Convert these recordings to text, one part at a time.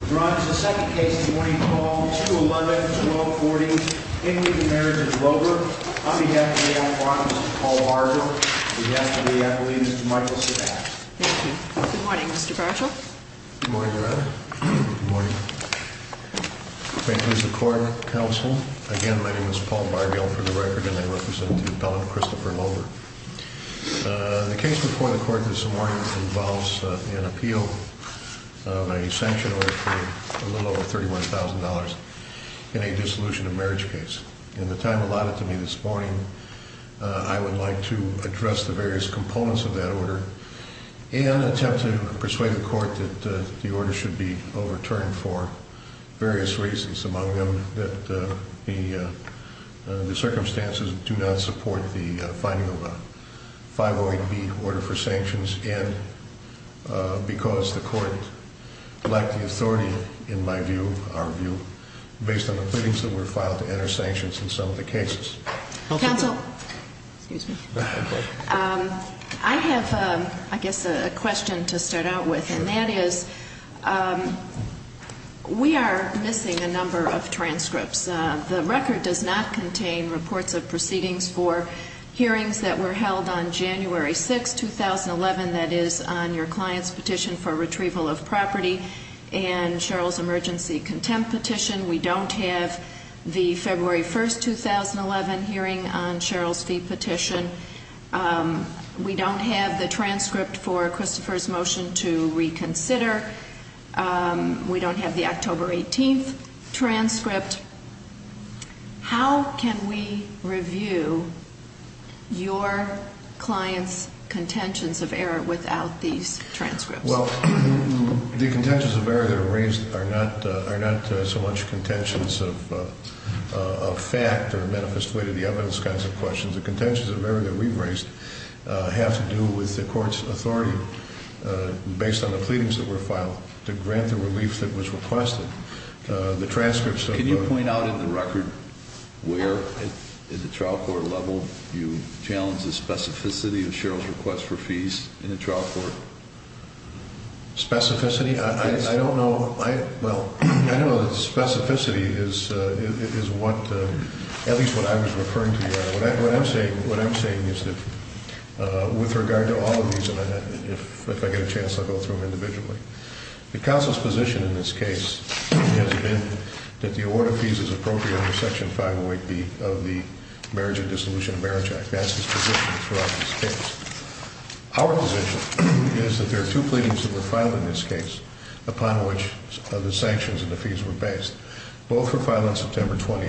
Good morning, Mr. Bargill. Good morning, Your Honor. Good morning. Thank you, Mr. Court and Counsel. Again, my name is Paul Bargill, for the record, and I represent the appellant, Christopher Loeber. The case before the Court this morning involves an appeal of a sanction order for a little over $31,000 in a dissolution of marriage case. In the time allotted to me this morning, I would like to address the various components of that order and attempt to persuade the Court that the order should be overturned for various reasons, among them that the circumstances do not support the finding of a 508B order for sanctions, and because the Court lacked the authority, in my view, our view, based on the pleadings that were filed to enter sanctions in some of the cases. Counsel, I have, I guess, a question to start out with, and that is, we are missing a number of transcripts. The record does not contain reports of proceedings for hearings that were held on January 6, 2011, that is, on your client's petition for retrieval of property and Cheryl's emergency contempt petition. We don't have the February 1, 2011 hearing on Cheryl's fee petition. We don't have the transcript for Christopher's motion to reconsider. We don't have the October 18 transcript. How can we review your client's contentions of error without these transcripts? Well, the contentions of error that are raised are not so much contentions of fact or a manifest way to the evidence kinds of questions. The contentions of error that we've raised have to do with the Court's authority, based on the pleadings that were filed, to grant the relief that was requested. The transcripts of the— Specificity? I don't know. Well, I know that specificity is what, at least what I was referring to. What I'm saying is that, with regard to all of these, and if I get a chance, I'll go through them individually. The counsel's position in this case has been that the award of fees is appropriate under Section 508B of the Marriage and Dissolution of Marriage Act. That's his position throughout this case. Our position is that there are two pleadings that were filed in this case, upon which the sanctions and the fees were based. Both were filed on September 20.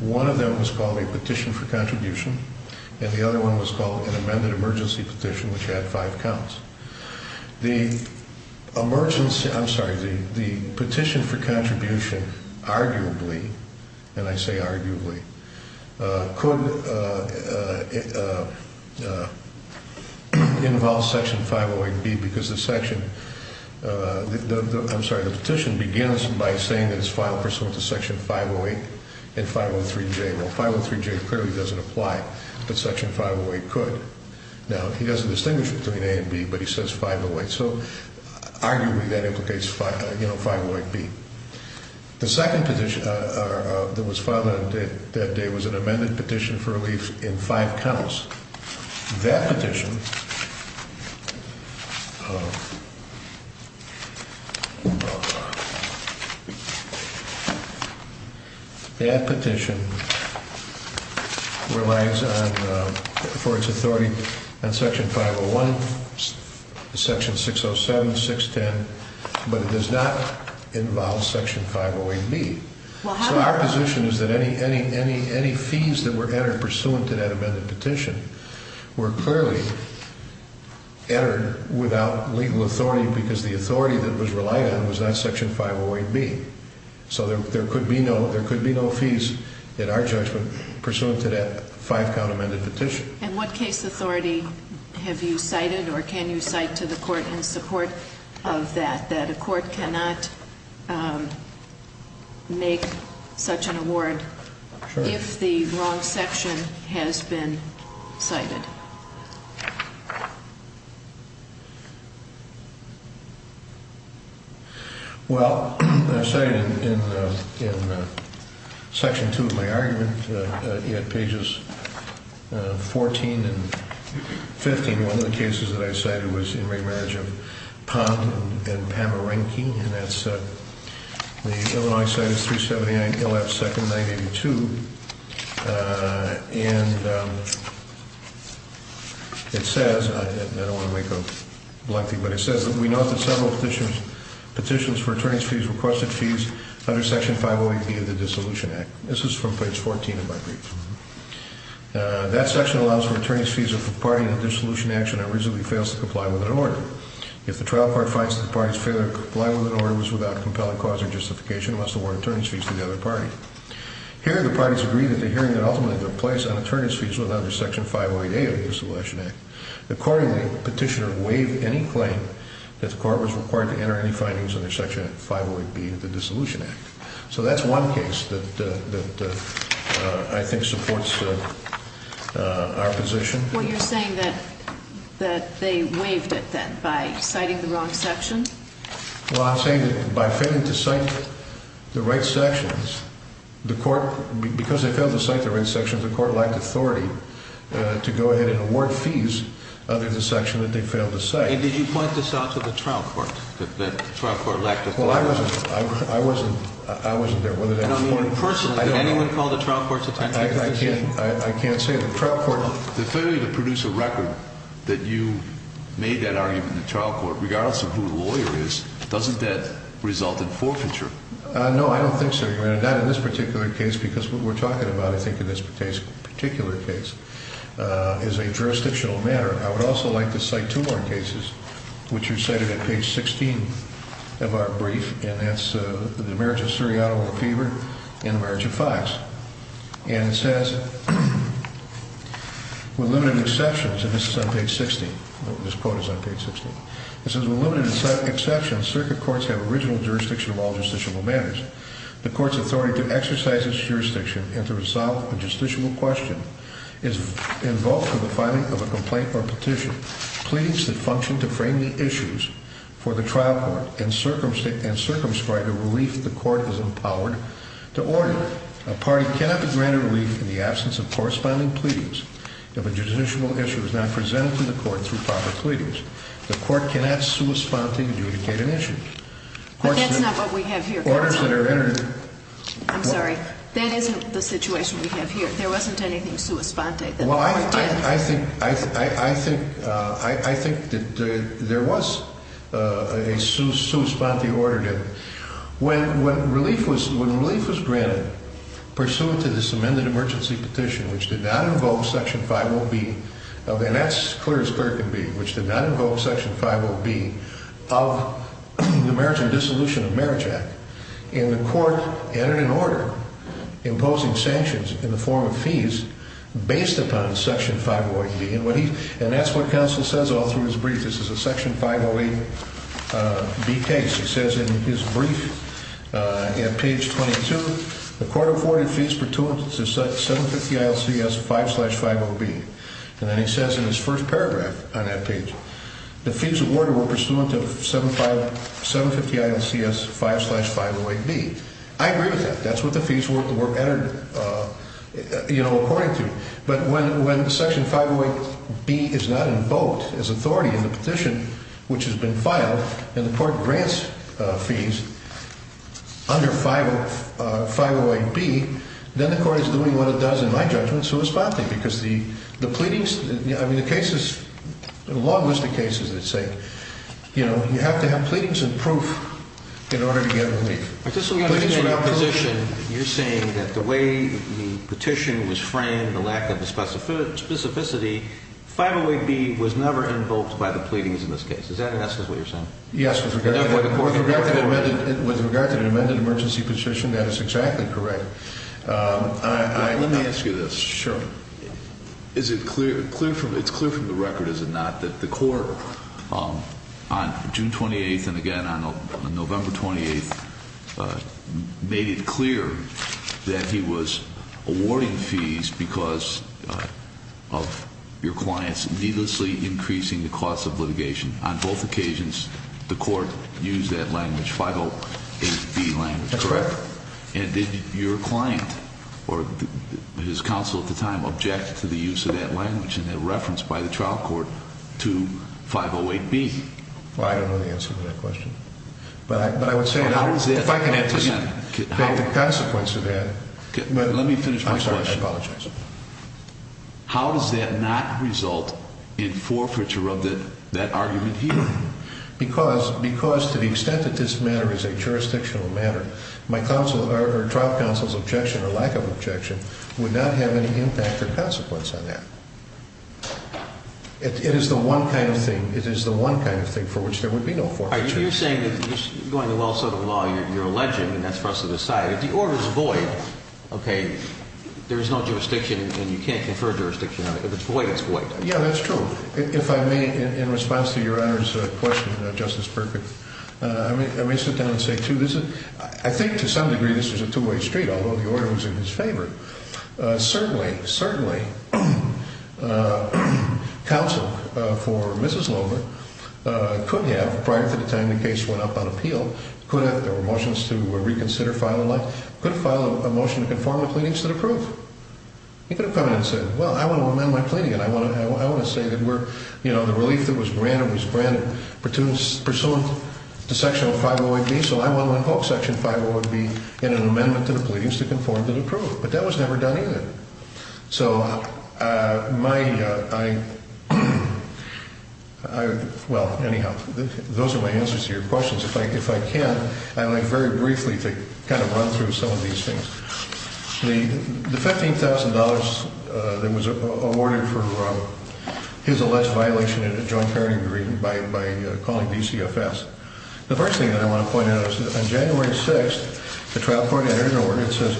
One of them was called a petition for contribution, and the other one was called an amended emergency petition, which had five counts. The petition for contribution arguably—and I say arguably—could involve Section 508B because the petition begins by saying that it's filed pursuant to Section 508 and 503J. Well, 503J clearly doesn't apply, but Section 508 could. Now, he doesn't distinguish between A and B, but he says 508, so arguably that implicates 508B. The second petition that was filed on that day was an amended petition for relief in five counts. That petition relies on—for its authority on Section 501, Section 607, 610, but it does not involve Section 508B. So our position is that any fees that were entered pursuant to that amended petition were clearly entered without legal authority because the authority that it was relied on was not Section 508B. So there could be no fees, in our judgment, pursuant to that five-count amended petition. And what case authority have you cited, or can you cite to the Court in support of that, that a Court cannot make such an award if the wrong section has been cited? Well, I've cited in Section 2 of my argument, at pages 14 and 15, one of the cases that I've cited was in remarriage of Pond and Pamerenke, and that's the Illinois Citus 379, ILL-F-2-982. And it says—and I don't want to make a blunty—but it says that we noted several petitions for attorneys' fees, requested fees, under Section 508B of the Dissolution Act. This is from page 14 of my brief. That section allows for attorneys' fees if a party in a dissolution action originally fails to comply with an order. If the trial court finds that the party's failure to comply with an order was without compelling cause or justification, it must award attorneys' fees to the other party. Here, the parties agree that the hearing that ultimately took place on attorneys' fees was under Section 508A of the Dissolution Act. Accordingly, the petitioner waived any claim that the Court was required to enter any findings under Section 508B of the Dissolution Act. So that's one case that I think supports our position. Well, you're saying that they waived it then by citing the wrong section? Well, I'm saying that by failing to cite the right sections, the Court—because they failed to cite the right sections, the Court lacked authority to go ahead and award fees under the section that they failed to cite. And did you point this out to the trial court, that the trial court lacked authority? Well, I wasn't—I wasn't—I wasn't there. And, I mean, personally, did anyone call the trial court's attention? I can't—I can't say. The trial court— The failure to produce a record that you made that argument in the trial court, regardless of who the lawyer is, doesn't that result in forfeiture? No, I don't think so, Your Honor. Not in this particular case, because what we're talking about, I think, in this particular case is a jurisdictional matter. I would also like to cite two more cases, which you cited at page 16 of our brief, and that's the marriage of Suriato or Fever and the marriage of Fox. And it says, with limited exceptions—and this is on page 16. This quote is on page 16. It says, with limited exceptions, circuit courts have original jurisdiction of all justiciable matters. The court's authority to exercise its jurisdiction and to resolve a justiciable question is invoked for the filing of a complaint or petition. Pleadings that function to frame the issues for the trial court and circumscribe the relief the court is empowered to order. A party cannot be granted relief in the absence of corresponding pleadings. If a justiciable issue is not presented to the court through proper pleadings, the court cannot correspondingly adjudicate an issue. But that's not what we have here, counsel. I'm sorry. That isn't the situation we have here. There wasn't anything sua sponte that the court did. Well, I think that there was a sua sponte order there. When relief was granted, pursuant to this amended emergency petition, which did not invoke Section 50B, and that's clear as clear can be, which did not invoke Section 50B of the Marriage and Dissolution of Marriage Act, the court entered an order imposing sanctions in the form of fees based upon Section 508B. And that's what counsel says all through his brief. This is a Section 508B case. He says in his brief, at page 22, the court afforded fees pertinent to 750 ILCS 5 slash 50B. And then he says in his first paragraph on that page, the fees awarded were pursuant to 750 ILCS 5 slash 508B. I agree with that. That's what the fees were entered, you know, according to. But when Section 508B is not invoked as authority in the petition, which has been filed, and the court grants fees under 508B, then the court is doing what it does in my judgment sua sponte, because the pleadings, I mean, the cases, the long list of cases that say, you know, you have to have pleadings and proof in order to get relief. I just don't understand your position. You're saying that the way the petition was framed, the lack of specificity, 508B was never invoked by the pleadings in this case. Is that necessarily what you're saying? Yes, with regard to the amended emergency petition, that is exactly correct. Let me ask you this. Sure. Is it clear, it's clear from the record, is it not, that the court on June 28th and again on November 28th made it clear that he was awarding fees because of your clients needlessly increasing the cost of litigation? On both occasions, the court used that language, 508B language, correct? That's correct. And did your client or his counsel at the time object to the use of that language and that reference by the trial court to 508B? Well, I don't know the answer to that question. But I would say, if I can have the consequence of that. Let me finish my question. I'm sorry, I apologize. How does that not result in forfeiture of that argument here? Because to the extent that this matter is a jurisdictional matter, my trial counsel's objection or lack of objection would not have any impact or consequence on that. It is the one kind of thing, it is the one kind of thing for which there would be no forfeiture. All right, you're saying that you're going to well-serve the law, you're alleging, and that's for us to decide. If the order is void, okay, there is no jurisdiction and you can't confer jurisdiction on it. If it's void, it's void. Yeah, that's true. If I may, in response to Your Honor's question, Justice Perkins, I may sit down and say, too, this is, I think to some degree this is a two-way street, although the order was in his favor. Certainly, certainly, counsel for Mrs. Lohmann could have, prior to the time the case went up on appeal, could have, there were motions to reconsider, file a motion to conform the pleadings to the proof. He could have come in and said, well, I want to amend my pleading and I want to say that we're, you know, the relief that was granted was granted pursuant to Section 508B, so I want to invoke Section 508B in an amendment to the pleadings to conform to the proof. That was never done either. So my, I, well, anyhow, those are my answers to your questions. If I can, I'd like very briefly to kind of run through some of these things. The $15,000 that was awarded for his alleged violation in a joint parenting agreement by calling DCFS, the first thing that I want to point out is that on January 6th, the trial court entered an order that says,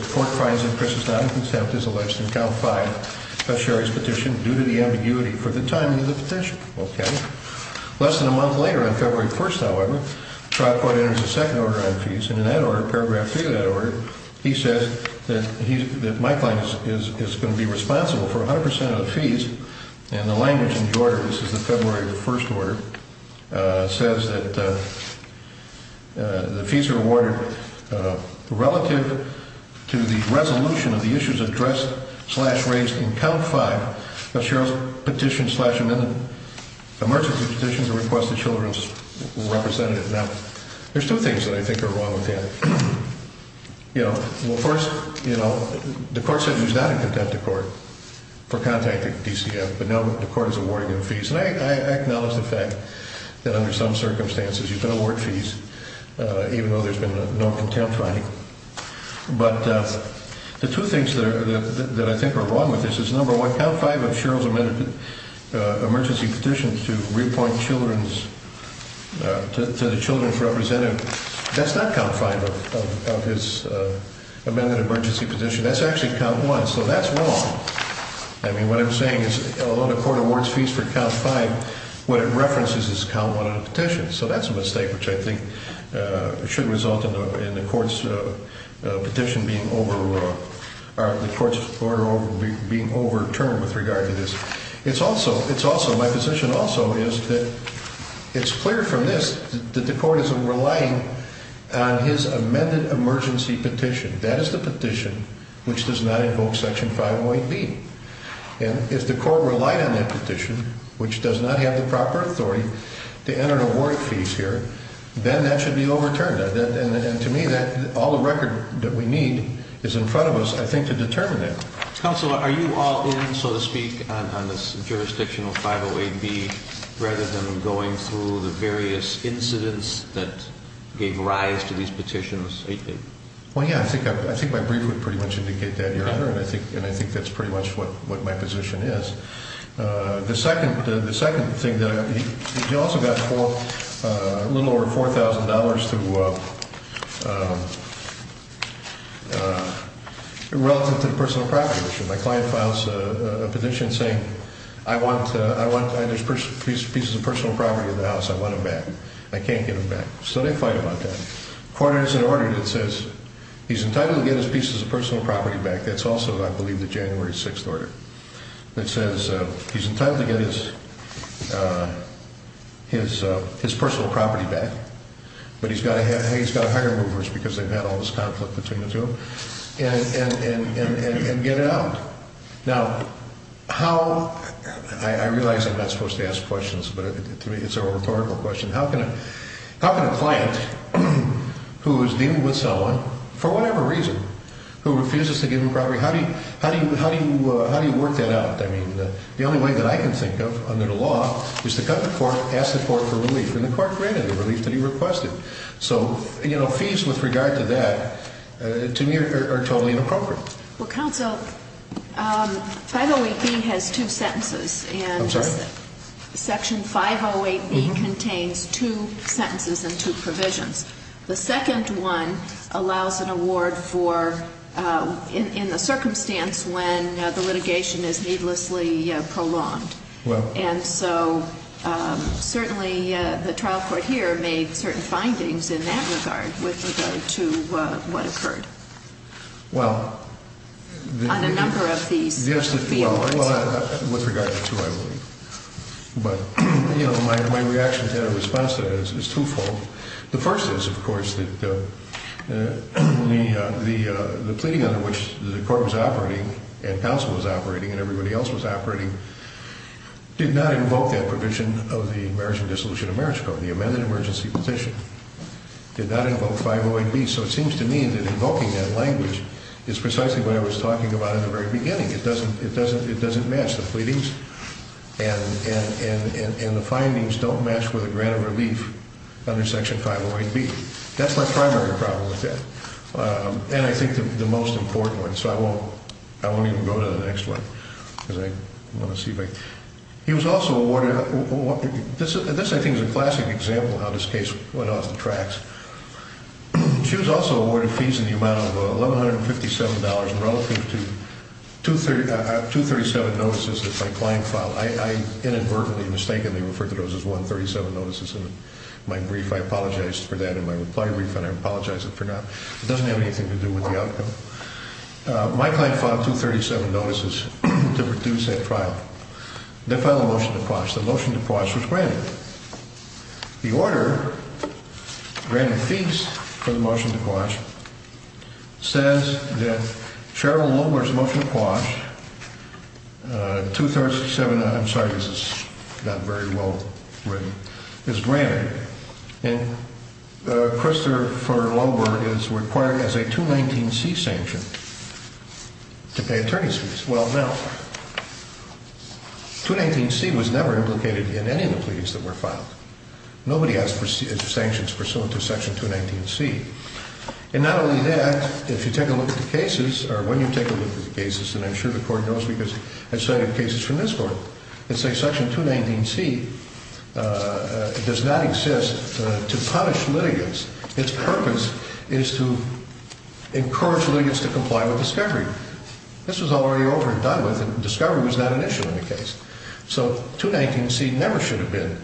Okay. Less than a month later, on February 1st, however, trial court enters a second order on fees, and in that order, paragraph three of that order, he says that he, that Mike Lange is going to be responsible for 100% of the fees, and the language in the order, this is the February 1st order, says that the fees are awarded relative to the resolution of the issues addressed slash raised in count five of Cheryl's petition slash amendment, emergency petition to request the children's representative. Now, there's two things that I think are wrong with that. You know, well, first, you know, the court says he's not in contempt of court for contacting DCF, but now the court is awarding him fees, and I acknowledge the fact that under some circumstances you can award fees, even though there's been no contempt finding. But the two things that I think are wrong with this is, number one, count five of Cheryl's amended emergency petition to reappoint children's, to the children's representative, that's not count five of his amended emergency petition. That's actually count one, so that's wrong. I mean, what I'm saying is, although the court awards fees for count five, what it references is count one of the petition, so that's a mistake, which I think should result in the court's petition being over, or the court's order being overturned with regard to this. It's also, it's also, my position also is that it's clear from this that the court isn't relying on his amended emergency petition. That is the petition which does not invoke section 508B. And if the court relied on that petition, which does not have the proper authority to enter the award fees here, then that should be overturned. And to me, all the record that we need is in front of us, I think, to determine that. Counsel, are you all in, so to speak, on this jurisdictional 508B, rather than going through the various incidents that gave rise to these petitions? Well, yeah, I think my brief would pretty much indicate that, Your Honor, and I think that's pretty much what my position is. The second thing, he also got a little over $4,000 relative to the personal property issue. My client files a petition saying, I want, there's pieces of personal property in the house, I want them back. I can't get them back. So they fight about that. The court has an order that says he's entitled to get his pieces of personal property back. That's also, I believe, the January 6th order. Now, how, I realize I'm not supposed to ask questions, but to me it's a rhetorical question. How can a client who is dealing with someone, for whatever reason, who refuses to give him property, how do you work that out? I mean, the only way that I can think of, under the law, is to come to court, ask the court for relief, and the court granted the relief that he requested. So, you know, fees with regard to that, to me, are totally inappropriate. Well, counsel, 508B has two sentences. I'm sorry? Section 508B contains two sentences and two provisions. The second one allows an award for, in the circumstance when the litigation is needlessly prolonged. Well. And so, certainly, the trial court here made certain findings in that regard with regard to what occurred. Well. On a number of these fields. Well, with regard to two, I believe. But, you know, my reaction to that response is twofold. The first is, of course, that the pleading under which the court was operating, and counsel was operating, and everybody else was operating, did not invoke that provision of the Marriage and Dissolution of Marriage Code. The amended emergency petition did not invoke 508B. So it seems to me that invoking that language is precisely what I was talking about in the very beginning. It doesn't match the pleadings, and the findings don't match with a grant of relief under Section 508B. That's my primary problem with that, and I think the most important one. So I won't even go to the next one, because I want to see if I can. He was also awarded – this, I think, is a classic example of how this case went off the tracks. She was also awarded fees in the amount of $1,157 relative to 237 notices that my client filed. I inadvertently, mistakenly referred to those as 137 notices in my brief. I apologized for that in my reply brief, and I apologize if I forgot. It doesn't have anything to do with the outcome. My client filed 237 notices to reduce that trial. They filed a motion to quash. The motion to quash was granted. The order granting fees for the motion to quash says that Cheryl Lohmer's motion to quash, 237 – I'm sorry, this is not very well written – is granted. And Christopher Lohmer is required as a 219C sanction to pay attorney's fees. Well, now, 219C was never implicated in any of the pleadings that were filed. Nobody has sanctions pursuant to Section 219C. And not only that, if you take a look at the cases, or when you take a look at the cases, and I'm sure the Court knows because I've cited cases from this Court, it says Section 219C does not exist to punish litigants. Its purpose is to encourage litigants to comply with discovery. This was already over and done with, and discovery was not an issue in the case. So 219C never should have been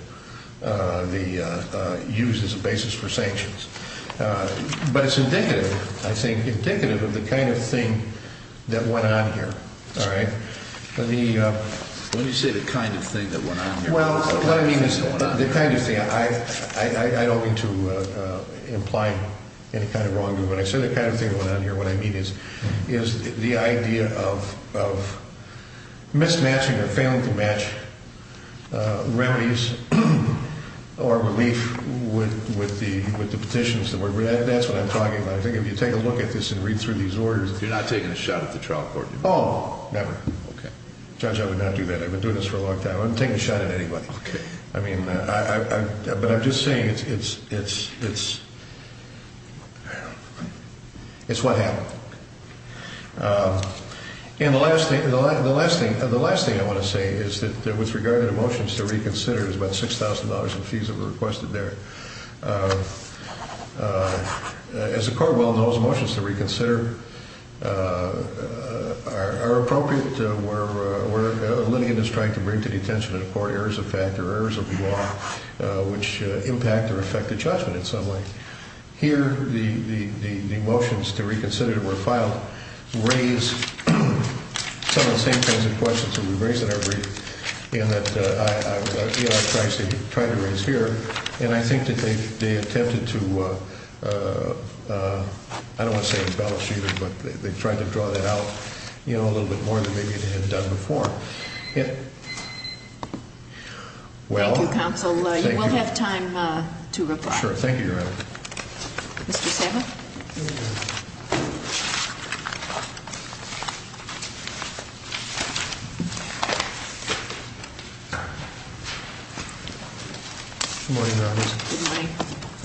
used as a basis for sanctions. But it's indicative, I think, indicative of the kind of thing that went on here. All right. Let me – When you say the kind of thing that went on here – Well, what I mean is the kind of thing – I don't mean to imply any kind of wrongdoing. When I say the kind of thing that went on here, what I mean is the idea of mismatching or failing to match remedies or relief with the petitions that were read. That's what I'm talking about. I think if you take a look at this and read through these orders – You're not taking a shot at the trial court? Oh, never. Okay. Judge, I would not do that. I've been doing this for a long time. I'm not taking a shot at anybody. Okay. I mean, but I'm just saying it's – I don't know. It's what happened. And the last thing I want to say is that with regard to the motions to reconsider, there's about $6,000 in fees that were requested there. As the court well knows, motions to reconsider are appropriate where a litigant is trying to bring to detention in a court errors of fact or errors of the law which impact or affect the judgment in some way. Here, the motions to reconsider that were filed raise some of the same kinds of questions that we raise in our brief and that E.R. Price tried to raise here, and I think that they attempted to – I don't want to say embellish either, but they tried to draw that out a little bit more than maybe they had done before. Thank you, counsel. You will have time to reply. Sure. Thank you, Your Honor. Mr. Sabat? Here we go. Good morning, Your Honor. Good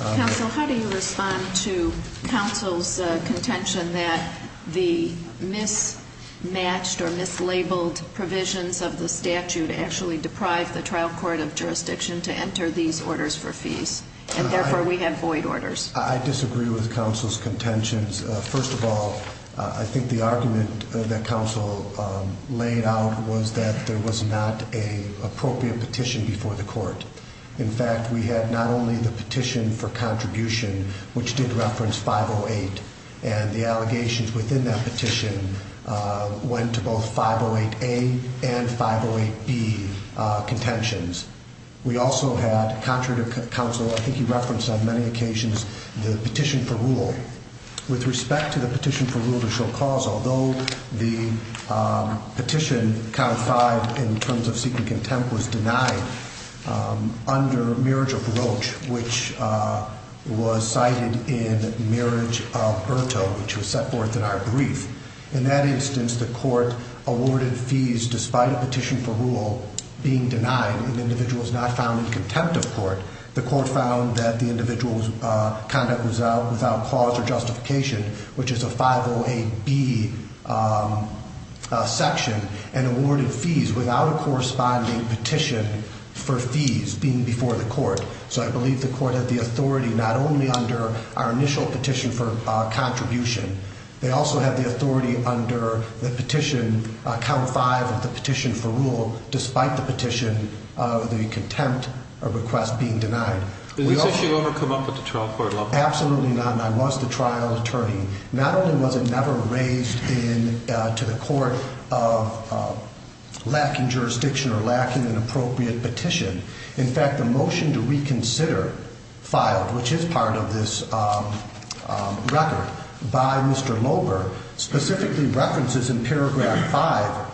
morning. Counsel, how do you respond to counsel's contention that the mismatched or mislabeled provisions of the statute actually deprive the trial court of jurisdiction to enter these orders for fees, and therefore we have void orders? I disagree with counsel's contentions. First of all, I think the argument that counsel laid out was that there was not an appropriate petition before the court. In fact, we had not only the petition for contribution, which did reference 508, and the allegations within that petition went to both 508A and 508B contentions. We also had, contrary to counsel, I think he referenced on many occasions the petition for rule. With respect to the petition for rule to show cause, although the petition codified in terms of seeking contempt was denied under marriage of Roach, which was cited in marriage of Berto, which was set forth in our brief. In that instance, the court awarded fees despite a petition for rule being denied and the individual was not found in contempt of court. The court found that the individual's conduct was without cause or justification, which is a 508B section, and awarded fees without a corresponding petition for fees being before the court. So I believe the court had the authority not only under our initial petition for contribution. They also had the authority under the petition, count five of the petition for rule, despite the petition of the contempt of request being denied. Did this issue ever come up at the trial court level? Absolutely not, and I was the trial attorney. Not only was it never raised to the court of lacking jurisdiction or lacking an appropriate petition. In fact, the motion to reconsider filed, which is part of this record by Mr. Loeber, specifically references in paragraph five,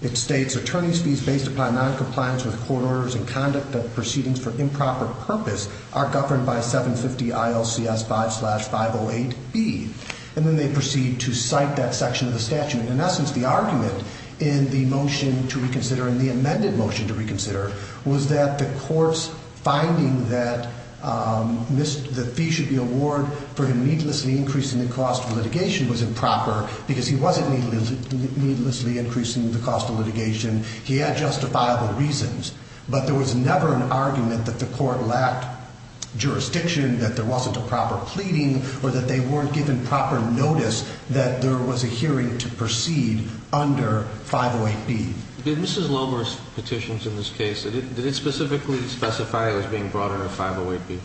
it states, attorney's fees based upon noncompliance with court orders and conduct of proceedings for improper purpose are governed by 750 ILCS 5 slash 508B. And then they proceed to cite that section of the statute. In essence, the argument in the motion to reconsider and the amended motion to reconsider was that the court's finding that the fee should be awarded for him needlessly increasing the cost of litigation was improper because he wasn't needlessly increasing the cost of litigation. He had justifiable reasons. But there was never an argument that the court lacked jurisdiction, that there wasn't a proper pleading, or that they weren't given proper notice that there was a hearing to proceed under 508B. Did Mrs. Loeber's petitions in this case, did it specifically specify it was being brought under 508B?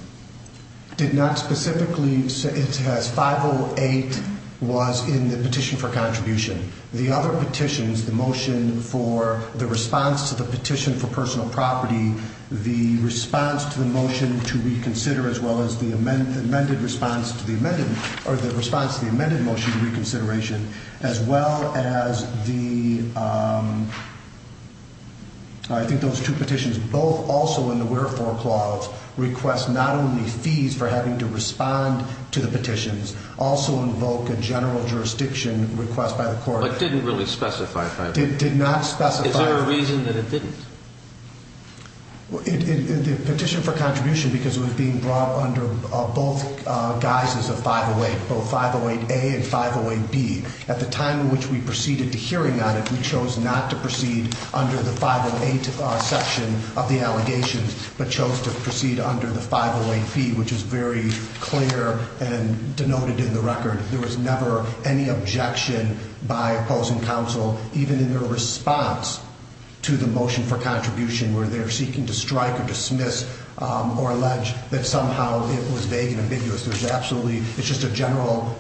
Did not specifically. It has 508 was in the petition for contribution. The other petitions, the motion for the response to the petition for personal property, the response to the motion to reconsider, as well as the amended response to the amended motion to reconsideration, as well as the, I think those two petitions, both also in the wherefore clause, request not only fees for having to respond to the petitions, also invoke a general jurisdiction request by the court. But didn't really specify 508B. Did not specify. Is there a reason that it didn't? The petition for contribution, because it was being brought under both guises of 508, both 508A and 508B, at the time in which we proceeded to hearing on it, we chose not to proceed under the 508 section of the allegations, but chose to proceed under the 508B, which is very clear and denoted in the record. There was never any objection by opposing counsel, even in their response to the motion for contribution, where they're seeking to strike or dismiss or allege that somehow it was vague and ambiguous. It's just a general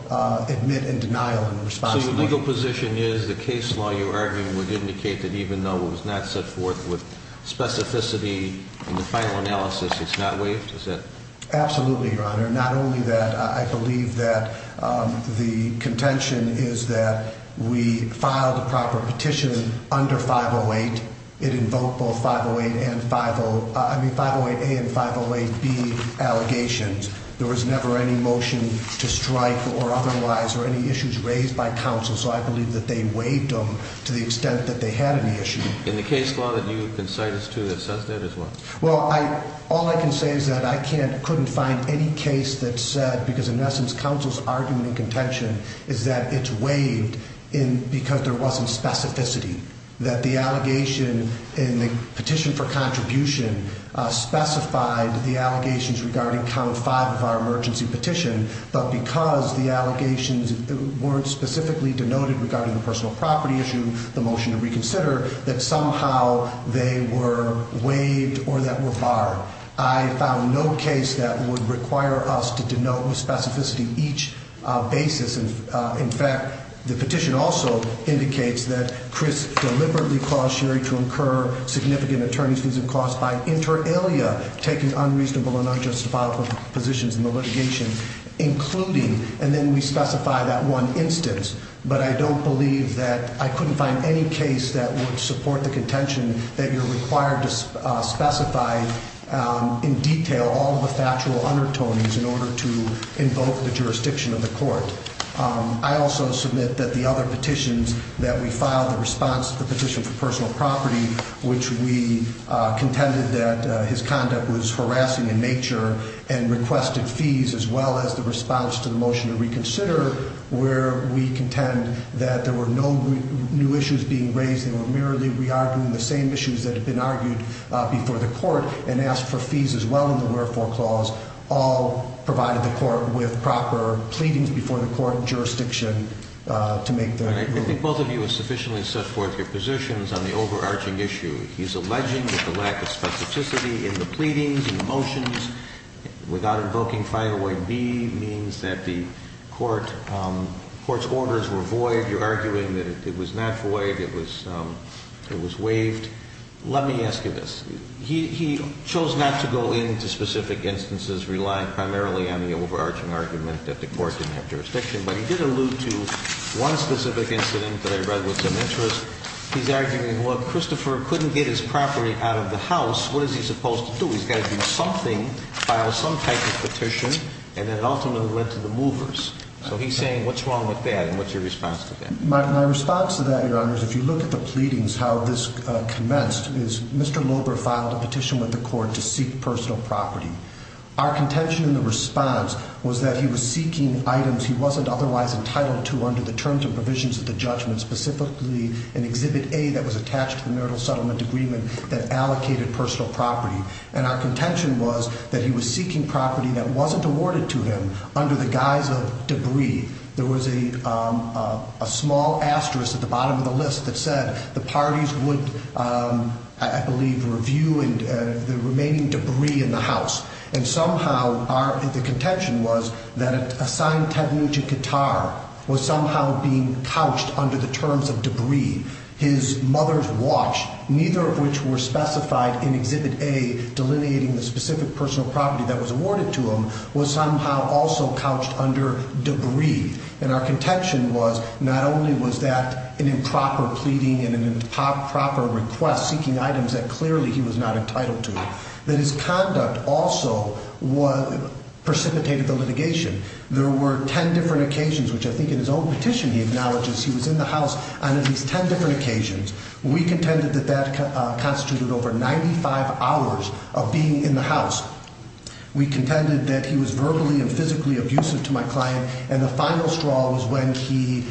admit and denial in response to the motion. So your legal position is the case law you're arguing would indicate that even though it was not set forth with specificity in the final analysis, it's not waived? Absolutely, Your Honor. Not only that, I believe that the contention is that we filed a proper petition under 508. It invoked both 508A and 508B allegations. There was never any motion to strike or otherwise or any issues raised by counsel, so I believe that they waived them to the extent that they had any issue. And the case law that you have been citing is true that says that as well? Well, all I can say is that I couldn't find any case that said, because in essence counsel's argument in contention is that it's waived because there wasn't specificity, that the allegation in the petition for contribution specified the allegations regarding count five of our emergency petition, but because the allegations weren't specifically denoted regarding the personal property issue, the motion to reconsider, that somehow they were waived or that were barred. I found no case that would require us to denote with specificity each basis. In fact, the petition also indicates that Chris deliberately caused Sherry to incur significant attorney's fees and costs by inter alia taking unreasonable and unjustifiable positions in the litigation, including, and then we specify that one instance. But I don't believe that I couldn't find any case that would support the contention that you're required to specify in detail all the factual undertones in order to invoke the jurisdiction of the court. I also submit that the other petitions that we filed, the response to the petition for personal property, which we contended that his conduct was harassing in nature and requested fees, as well as the response to the motion to reconsider where we contend that there were no new issues being raised. They were merely re-arguing the same issues that had been argued before the court and asked for fees as well in the wherefore clause, all provided the court with proper pleadings before the court and jurisdiction to make their ruling. I think both of you have sufficiently set forth your positions on the overarching issue. He's alleging that the lack of specificity in the pleadings and motions without invoking 501B means that the court's orders were void. You're arguing that it was not void. It was waived. Let me ask you this. He chose not to go into specific instances relying primarily on the overarching argument that the court didn't have jurisdiction, but he did allude to one specific incident that I read with some interest. He's arguing, well, Christopher couldn't get his property out of the house. What is he supposed to do? He's got to do something, file some type of petition, and then ultimately went to the movers. So he's saying what's wrong with that, and what's your response to that? My response to that, Your Honors, if you look at the pleadings, how this commenced, is Mr. Loeber filed a petition with the court to seek personal property. Our contention in the response was that he was seeking items he wasn't otherwise entitled to under the terms and provisions of the judgment, specifically in Exhibit A that was attached to the marital settlement agreement that allocated personal property. And our contention was that he was seeking property that wasn't awarded to him under the guise of debris. There was a small asterisk at the bottom of the list that said the parties would, I believe, review the remaining debris in the house. And somehow our contention was that a signed taboo to Qatar was somehow being couched under the terms of debris. His mother's watch, neither of which were specified in Exhibit A, delineating the specific personal property that was awarded to him, was somehow also couched under debris. And our contention was not only was that an improper pleading and an improper request seeking items that clearly he was not entitled to, that his conduct also precipitated the litigation. There were 10 different occasions, which I think in his own petition he acknowledges he was in the house on at least 10 different occasions. We contended that that constituted over 95 hours of being in the house. We contended that he was verbally and physically abusive to my client, and the final straw was when he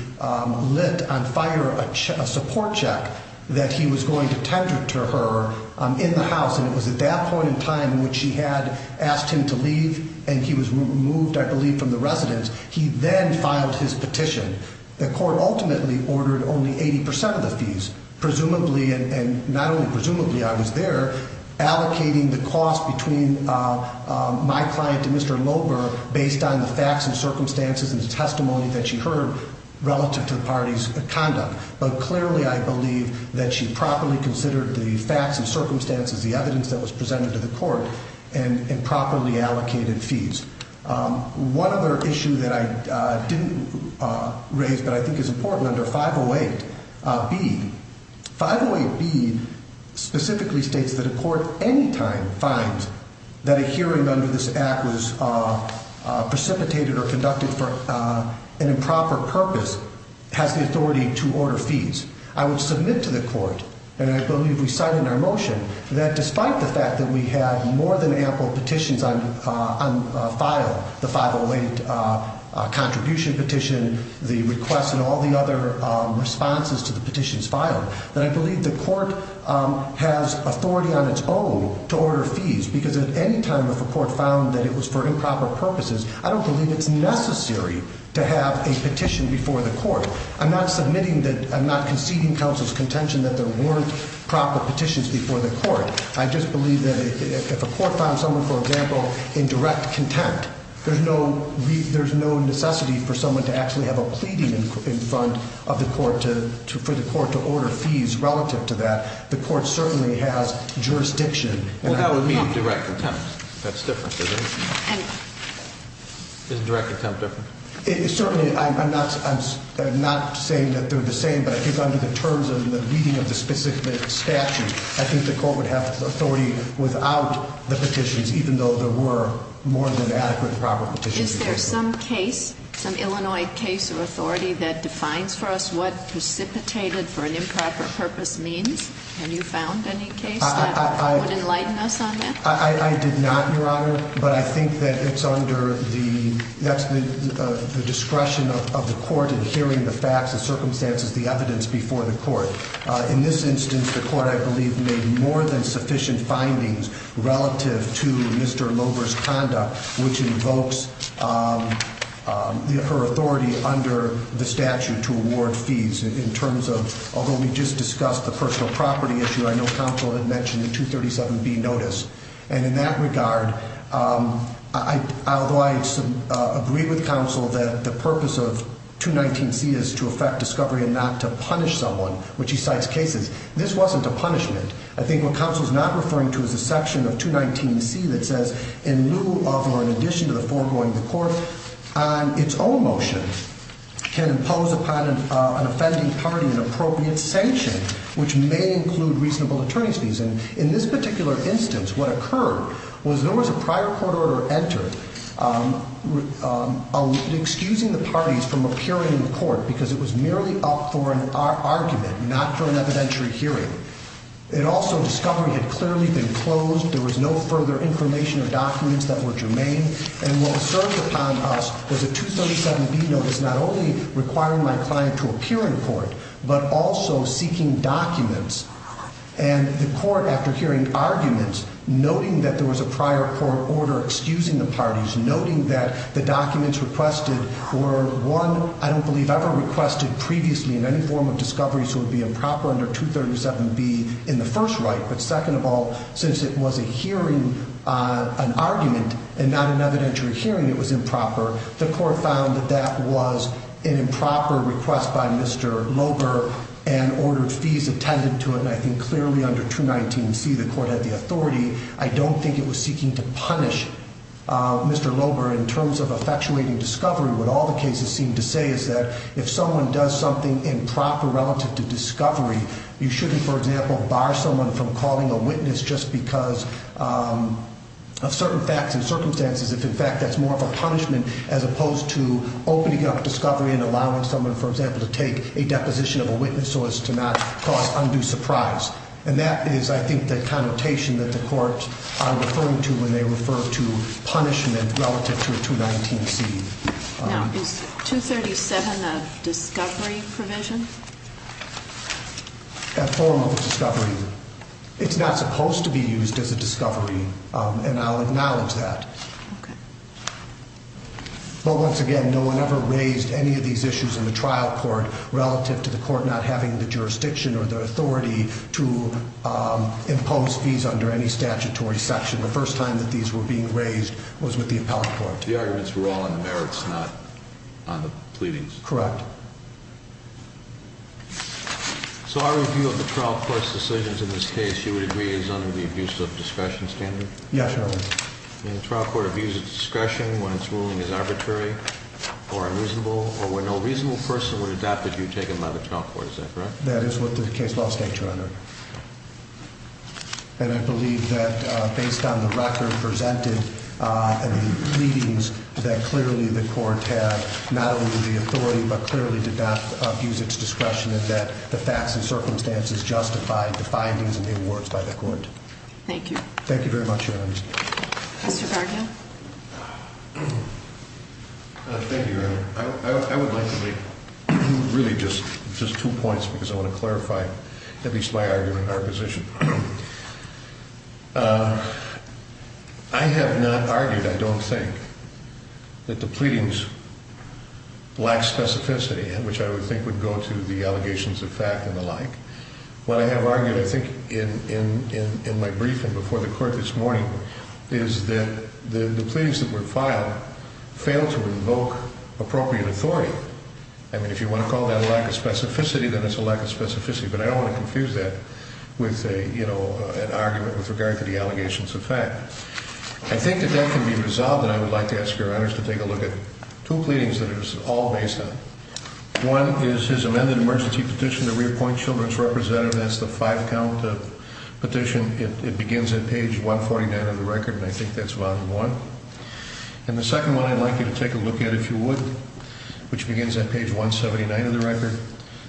lit on fire a support check that he was going to tender to her in the house, and it was at that point in time when she had asked him to leave, and he was removed, I believe, from the residence. He then filed his petition. The court ultimately ordered only 80% of the fees, presumably, and not only presumably, I was there, allocating the cost between my client and Mr. Loeber based on the facts and circumstances and the testimony that she heard relative to the party's conduct. But clearly I believe that she properly considered the facts and circumstances, the evidence that was presented to the court, and properly allocated fees. One other issue that I didn't raise but I think is important under 508B, 508B specifically states that a court any time finds that a hearing under this act was precipitated or conducted for an improper purpose has the authority to order fees. I would submit to the court, and I believe we cite in our motion, that despite the fact that we had more than ample petitions on file, the 508 contribution petition, the request, and all the other responses to the petitions filed, that I believe the court has authority on its own to order fees, because at any time if a court found that it was for improper purposes, I don't believe it's necessary to have a petition before the court. I'm not conceding counsel's contention that there weren't proper petitions before the court. I just believe that if a court found someone, for example, in direct contempt, there's no necessity for someone to actually have a pleading in front of the court for the court to order fees relative to that. The court certainly has jurisdiction. Well, that would mean direct contempt. That's different, isn't it? Isn't direct contempt different? Certainly. I'm not saying that they're the same, but I think under the terms of the meeting of the specific statute, I think the court would have authority without the petitions, even though there were more than adequate and proper petitions. Is there some case, some Illinois case or authority, that defines for us what precipitated for an improper purpose means? Have you found any case that would enlighten us on that? I did not, Your Honor. But I think that it's under the discretion of the court in hearing the facts, the circumstances, the evidence before the court. In this instance, the court, I believe, made more than sufficient findings relative to Mr. Loeber's conduct, which invokes her authority under the statute to award fees. In terms of, although we just discussed the personal property issue, I know counsel had mentioned the 237B notice. And in that regard, although I agree with counsel that the purpose of 219C is to affect discovery and not to punish someone, which he cites cases, this wasn't a punishment. I think what counsel is not referring to is the section of 219C that says, in lieu of or in addition to the foregoing of the court on its own motion, can impose upon an offending party an appropriate sanction, which may include reasonable attorney's fees. And in this particular instance, what occurred was there was a prior court order entered excusing the parties from appearing in court because it was merely up for an argument, not for an evidentiary hearing. It also, discovery had clearly been closed. There was no further information or documents that were germane. And what was served upon us was a 237B notice not only requiring my client to appear in court, but also seeking documents. And the court, after hearing arguments, noting that there was a prior court order excusing the parties, noting that the documents requested were, one, I don't believe ever requested previously in any form of discovery, so it would be improper under 237B in the first right. But second of all, since it was a hearing, an argument and not an evidentiary hearing, it was improper. The court found that that was an improper request by Mr. Loeber and ordered fees attended to it. And I think clearly under 219C, the court had the authority. I don't think it was seeking to punish Mr. Loeber in terms of effectuating discovery. What all the cases seem to say is that if someone does something improper relative to discovery, you shouldn't, for example, bar someone from calling a witness just because of certain facts and circumstances, if in fact that's more of a punishment as opposed to opening up discovery and allowing someone, for example, to take a deposition of a witness so as to not cause undue surprise. And that is, I think, the connotation that the courts are referring to when they refer to punishment relative to a 219C. Now, is 237 a discovery provision? A form of discovery. It's not supposed to be used as a discovery, and I'll acknowledge that. Okay. Well, once again, no one ever raised any of these issues in the trial court relative to the court not having the jurisdiction or the authority to impose fees under any statutory section. The first time that these were being raised was with the appellate court. The arguments were all on the merits, not on the pleadings. Correct. So our review of the trial court's decisions in this case, you would agree, is under the abuse of discretion standard? Yes, Your Honor. And the trial court abuses discretion when its ruling is arbitrary or unreasonable or when no reasonable person would adopt a view taken by the trial court, is that correct? That is what the case law states, Your Honor. And I believe that based on the record presented and the pleadings, that clearly the court had not only the authority but clearly did not abuse its discretion and that the facts and circumstances justified the findings and the awards by the court. Thank you. Thank you very much, Your Honor. Mr. Gardner? Thank you, Your Honor. I would like to make really just two points because I want to clarify at least my argument or position. I have not argued, I don't think, that the pleadings lack specificity, which I would think would go to the allegations of fact and the like. What I have argued, I think, in my briefing before the court this morning, is that the pleadings that were filed fail to invoke appropriate authority. I mean, if you want to call that a lack of specificity, then it's a lack of specificity, but I don't want to confuse that with an argument with regard to the allegations of fact. I think that that can be resolved, and I would like to ask Your Honors to take a look at two pleadings that it was all based on. One is his amended emergency petition to reappoint children's representative. That's the five-count petition. It begins at page 149 of the record, and I think that's volume one. And the second one I'd like you to take a look at, if you would, which begins at page 179 of the record,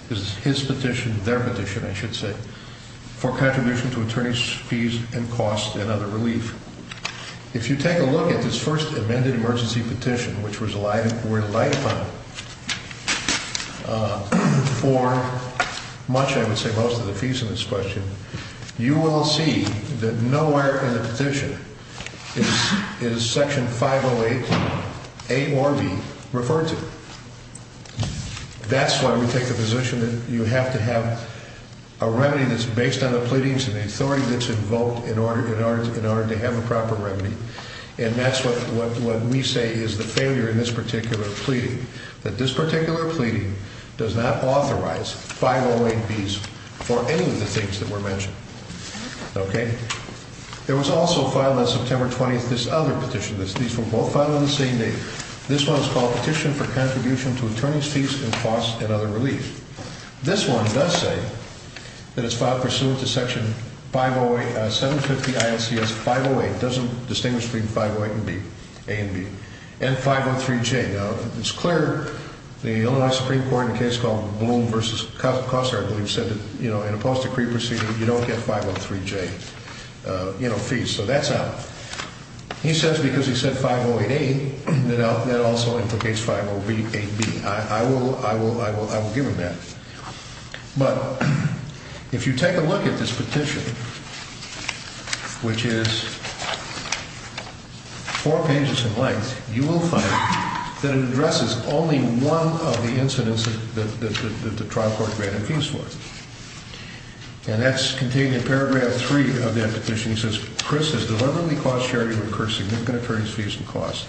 is his petition, their petition, I should say, for contribution to attorney's fees and costs and other relief. If you take a look at this first amended emergency petition, which was relied upon for much, I would say, most of the fees in this question, you will see that nowhere in the petition is Section 508A or B referred to. That's why we take the position that you have to have a remedy that's based on the pleadings and the authority that's invoked in order to have a proper remedy. And that's what we say is the failure in this particular pleading, that this particular pleading does not authorize 508Bs for any of the things that were mentioned. Okay? There was also filed on September 20th this other petition. These were both filed on the same day. This one was called Petition for Contribution to Attorney's Fees and Costs and Other Relief. This one does say that it's filed pursuant to Section 508, 750 ILCS 508. It doesn't distinguish between 508 and B, A and B. And 503J. Now, it's clear the Illinois Supreme Court in a case called Bloom v. Koster, I believe, said that, you know, in a post-decree proceeding, you don't get 503J, you know, fees. So that's out. He says because he said 508A, that also implicates 508B. I will give him that. But if you take a look at this petition, which is four pages in length, you will find that it addresses only one of the incidents that the trial court granted fees for. And that's contained in Paragraph 3 of that petition. It says, Chris has deliberately cost Sherry to incur significant attorney's fees and costs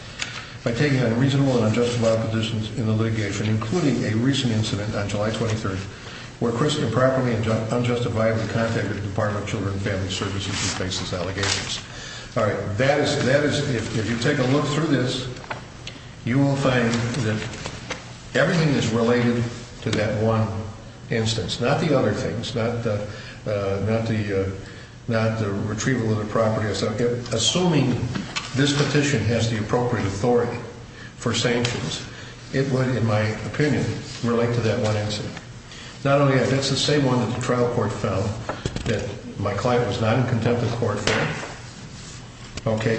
by taking unreasonable and unjustified petitions in the litigation, including a recent incident on July 23rd, where Chris improperly and unjustifiably contacted the Department of Children and Family Services and faces allegations. All right. That is if you take a look through this, you will find that everything is related to that one instance, not the other things, not the retrieval of the property. Assuming this petition has the appropriate authority for sanctions, it would, in my opinion, relate to that one incident. Not only that, that's the same one that the trial court found that my client was not in contempt of the court for. Okay.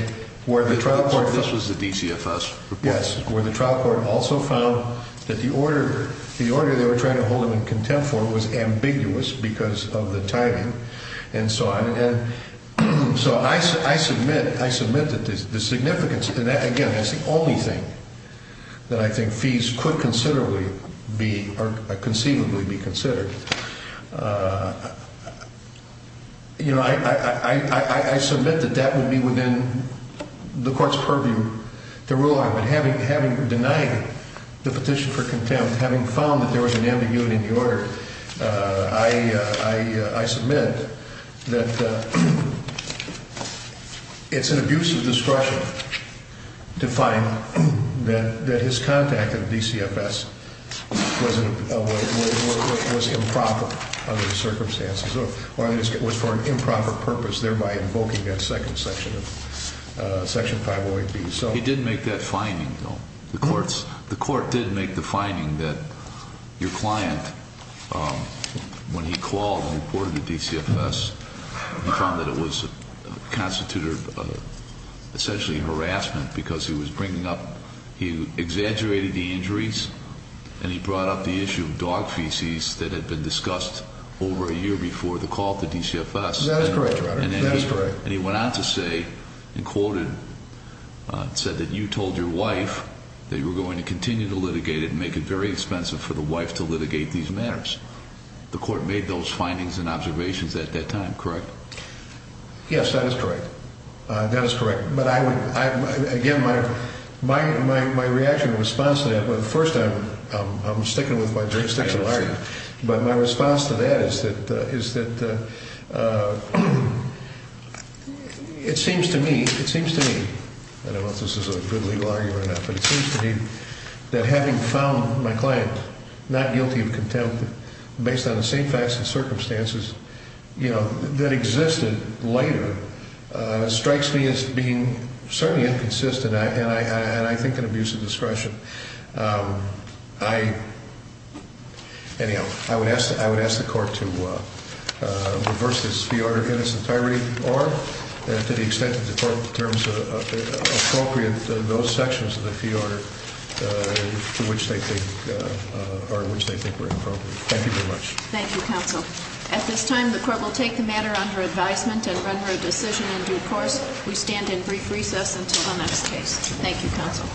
This was the DCFS report? Yes. Where the trial court also found that the order they were trying to hold him in contempt for was ambiguous because of the timing and so on. So I submit that the significance, and again, that's the only thing that I think fees could conceivably be considered. I submit that that would be within the court's purview to rule on. But having denied the petition for contempt, having found that there was an ambiguity in the order, I submit that it's an abuse of discretion to find that his contact at DCFS was improper under the circumstances, or it was for an improper purpose, thereby invoking that second section of Section 508B. He did make that finding, though. The court did make the finding that your client, when he called and reported to DCFS, he found that it was constituted of essentially harassment because he was bringing up, he exaggerated the injuries and he brought up the issue of dog feces that had been discussed over a year before the call to DCFS. That is correct, Your Honor. That is correct. And he went on to say, and quoted, said that you told your wife that you were going to continue to litigate it and make it very expensive for the wife to litigate these matters. The court made those findings and observations at that time, correct? Yes, that is correct. That is correct. But I would, again, my reaction in response to that, well, first I'm sticking with my jurisdictional argument, but my response to that is that it seems to me, it seems to me, I don't know if this is a good legal argument or not, but it seems to me that having found my client not guilty of contempt based on the same facts and circumstances, you know, that existed later strikes me as being certainly inconsistent and I think an abuse of discretion. I, anyhow, I would ask the court to reverse this fee order in its entirety or to the extent that the court determines appropriate those sections of the fee order to which they think, or which they think were appropriate. Thank you very much. Thank you, counsel. At this time, the court will take the matter under advisement and render a decision in due course. We stand in brief recess until the next case. Thank you, counsel.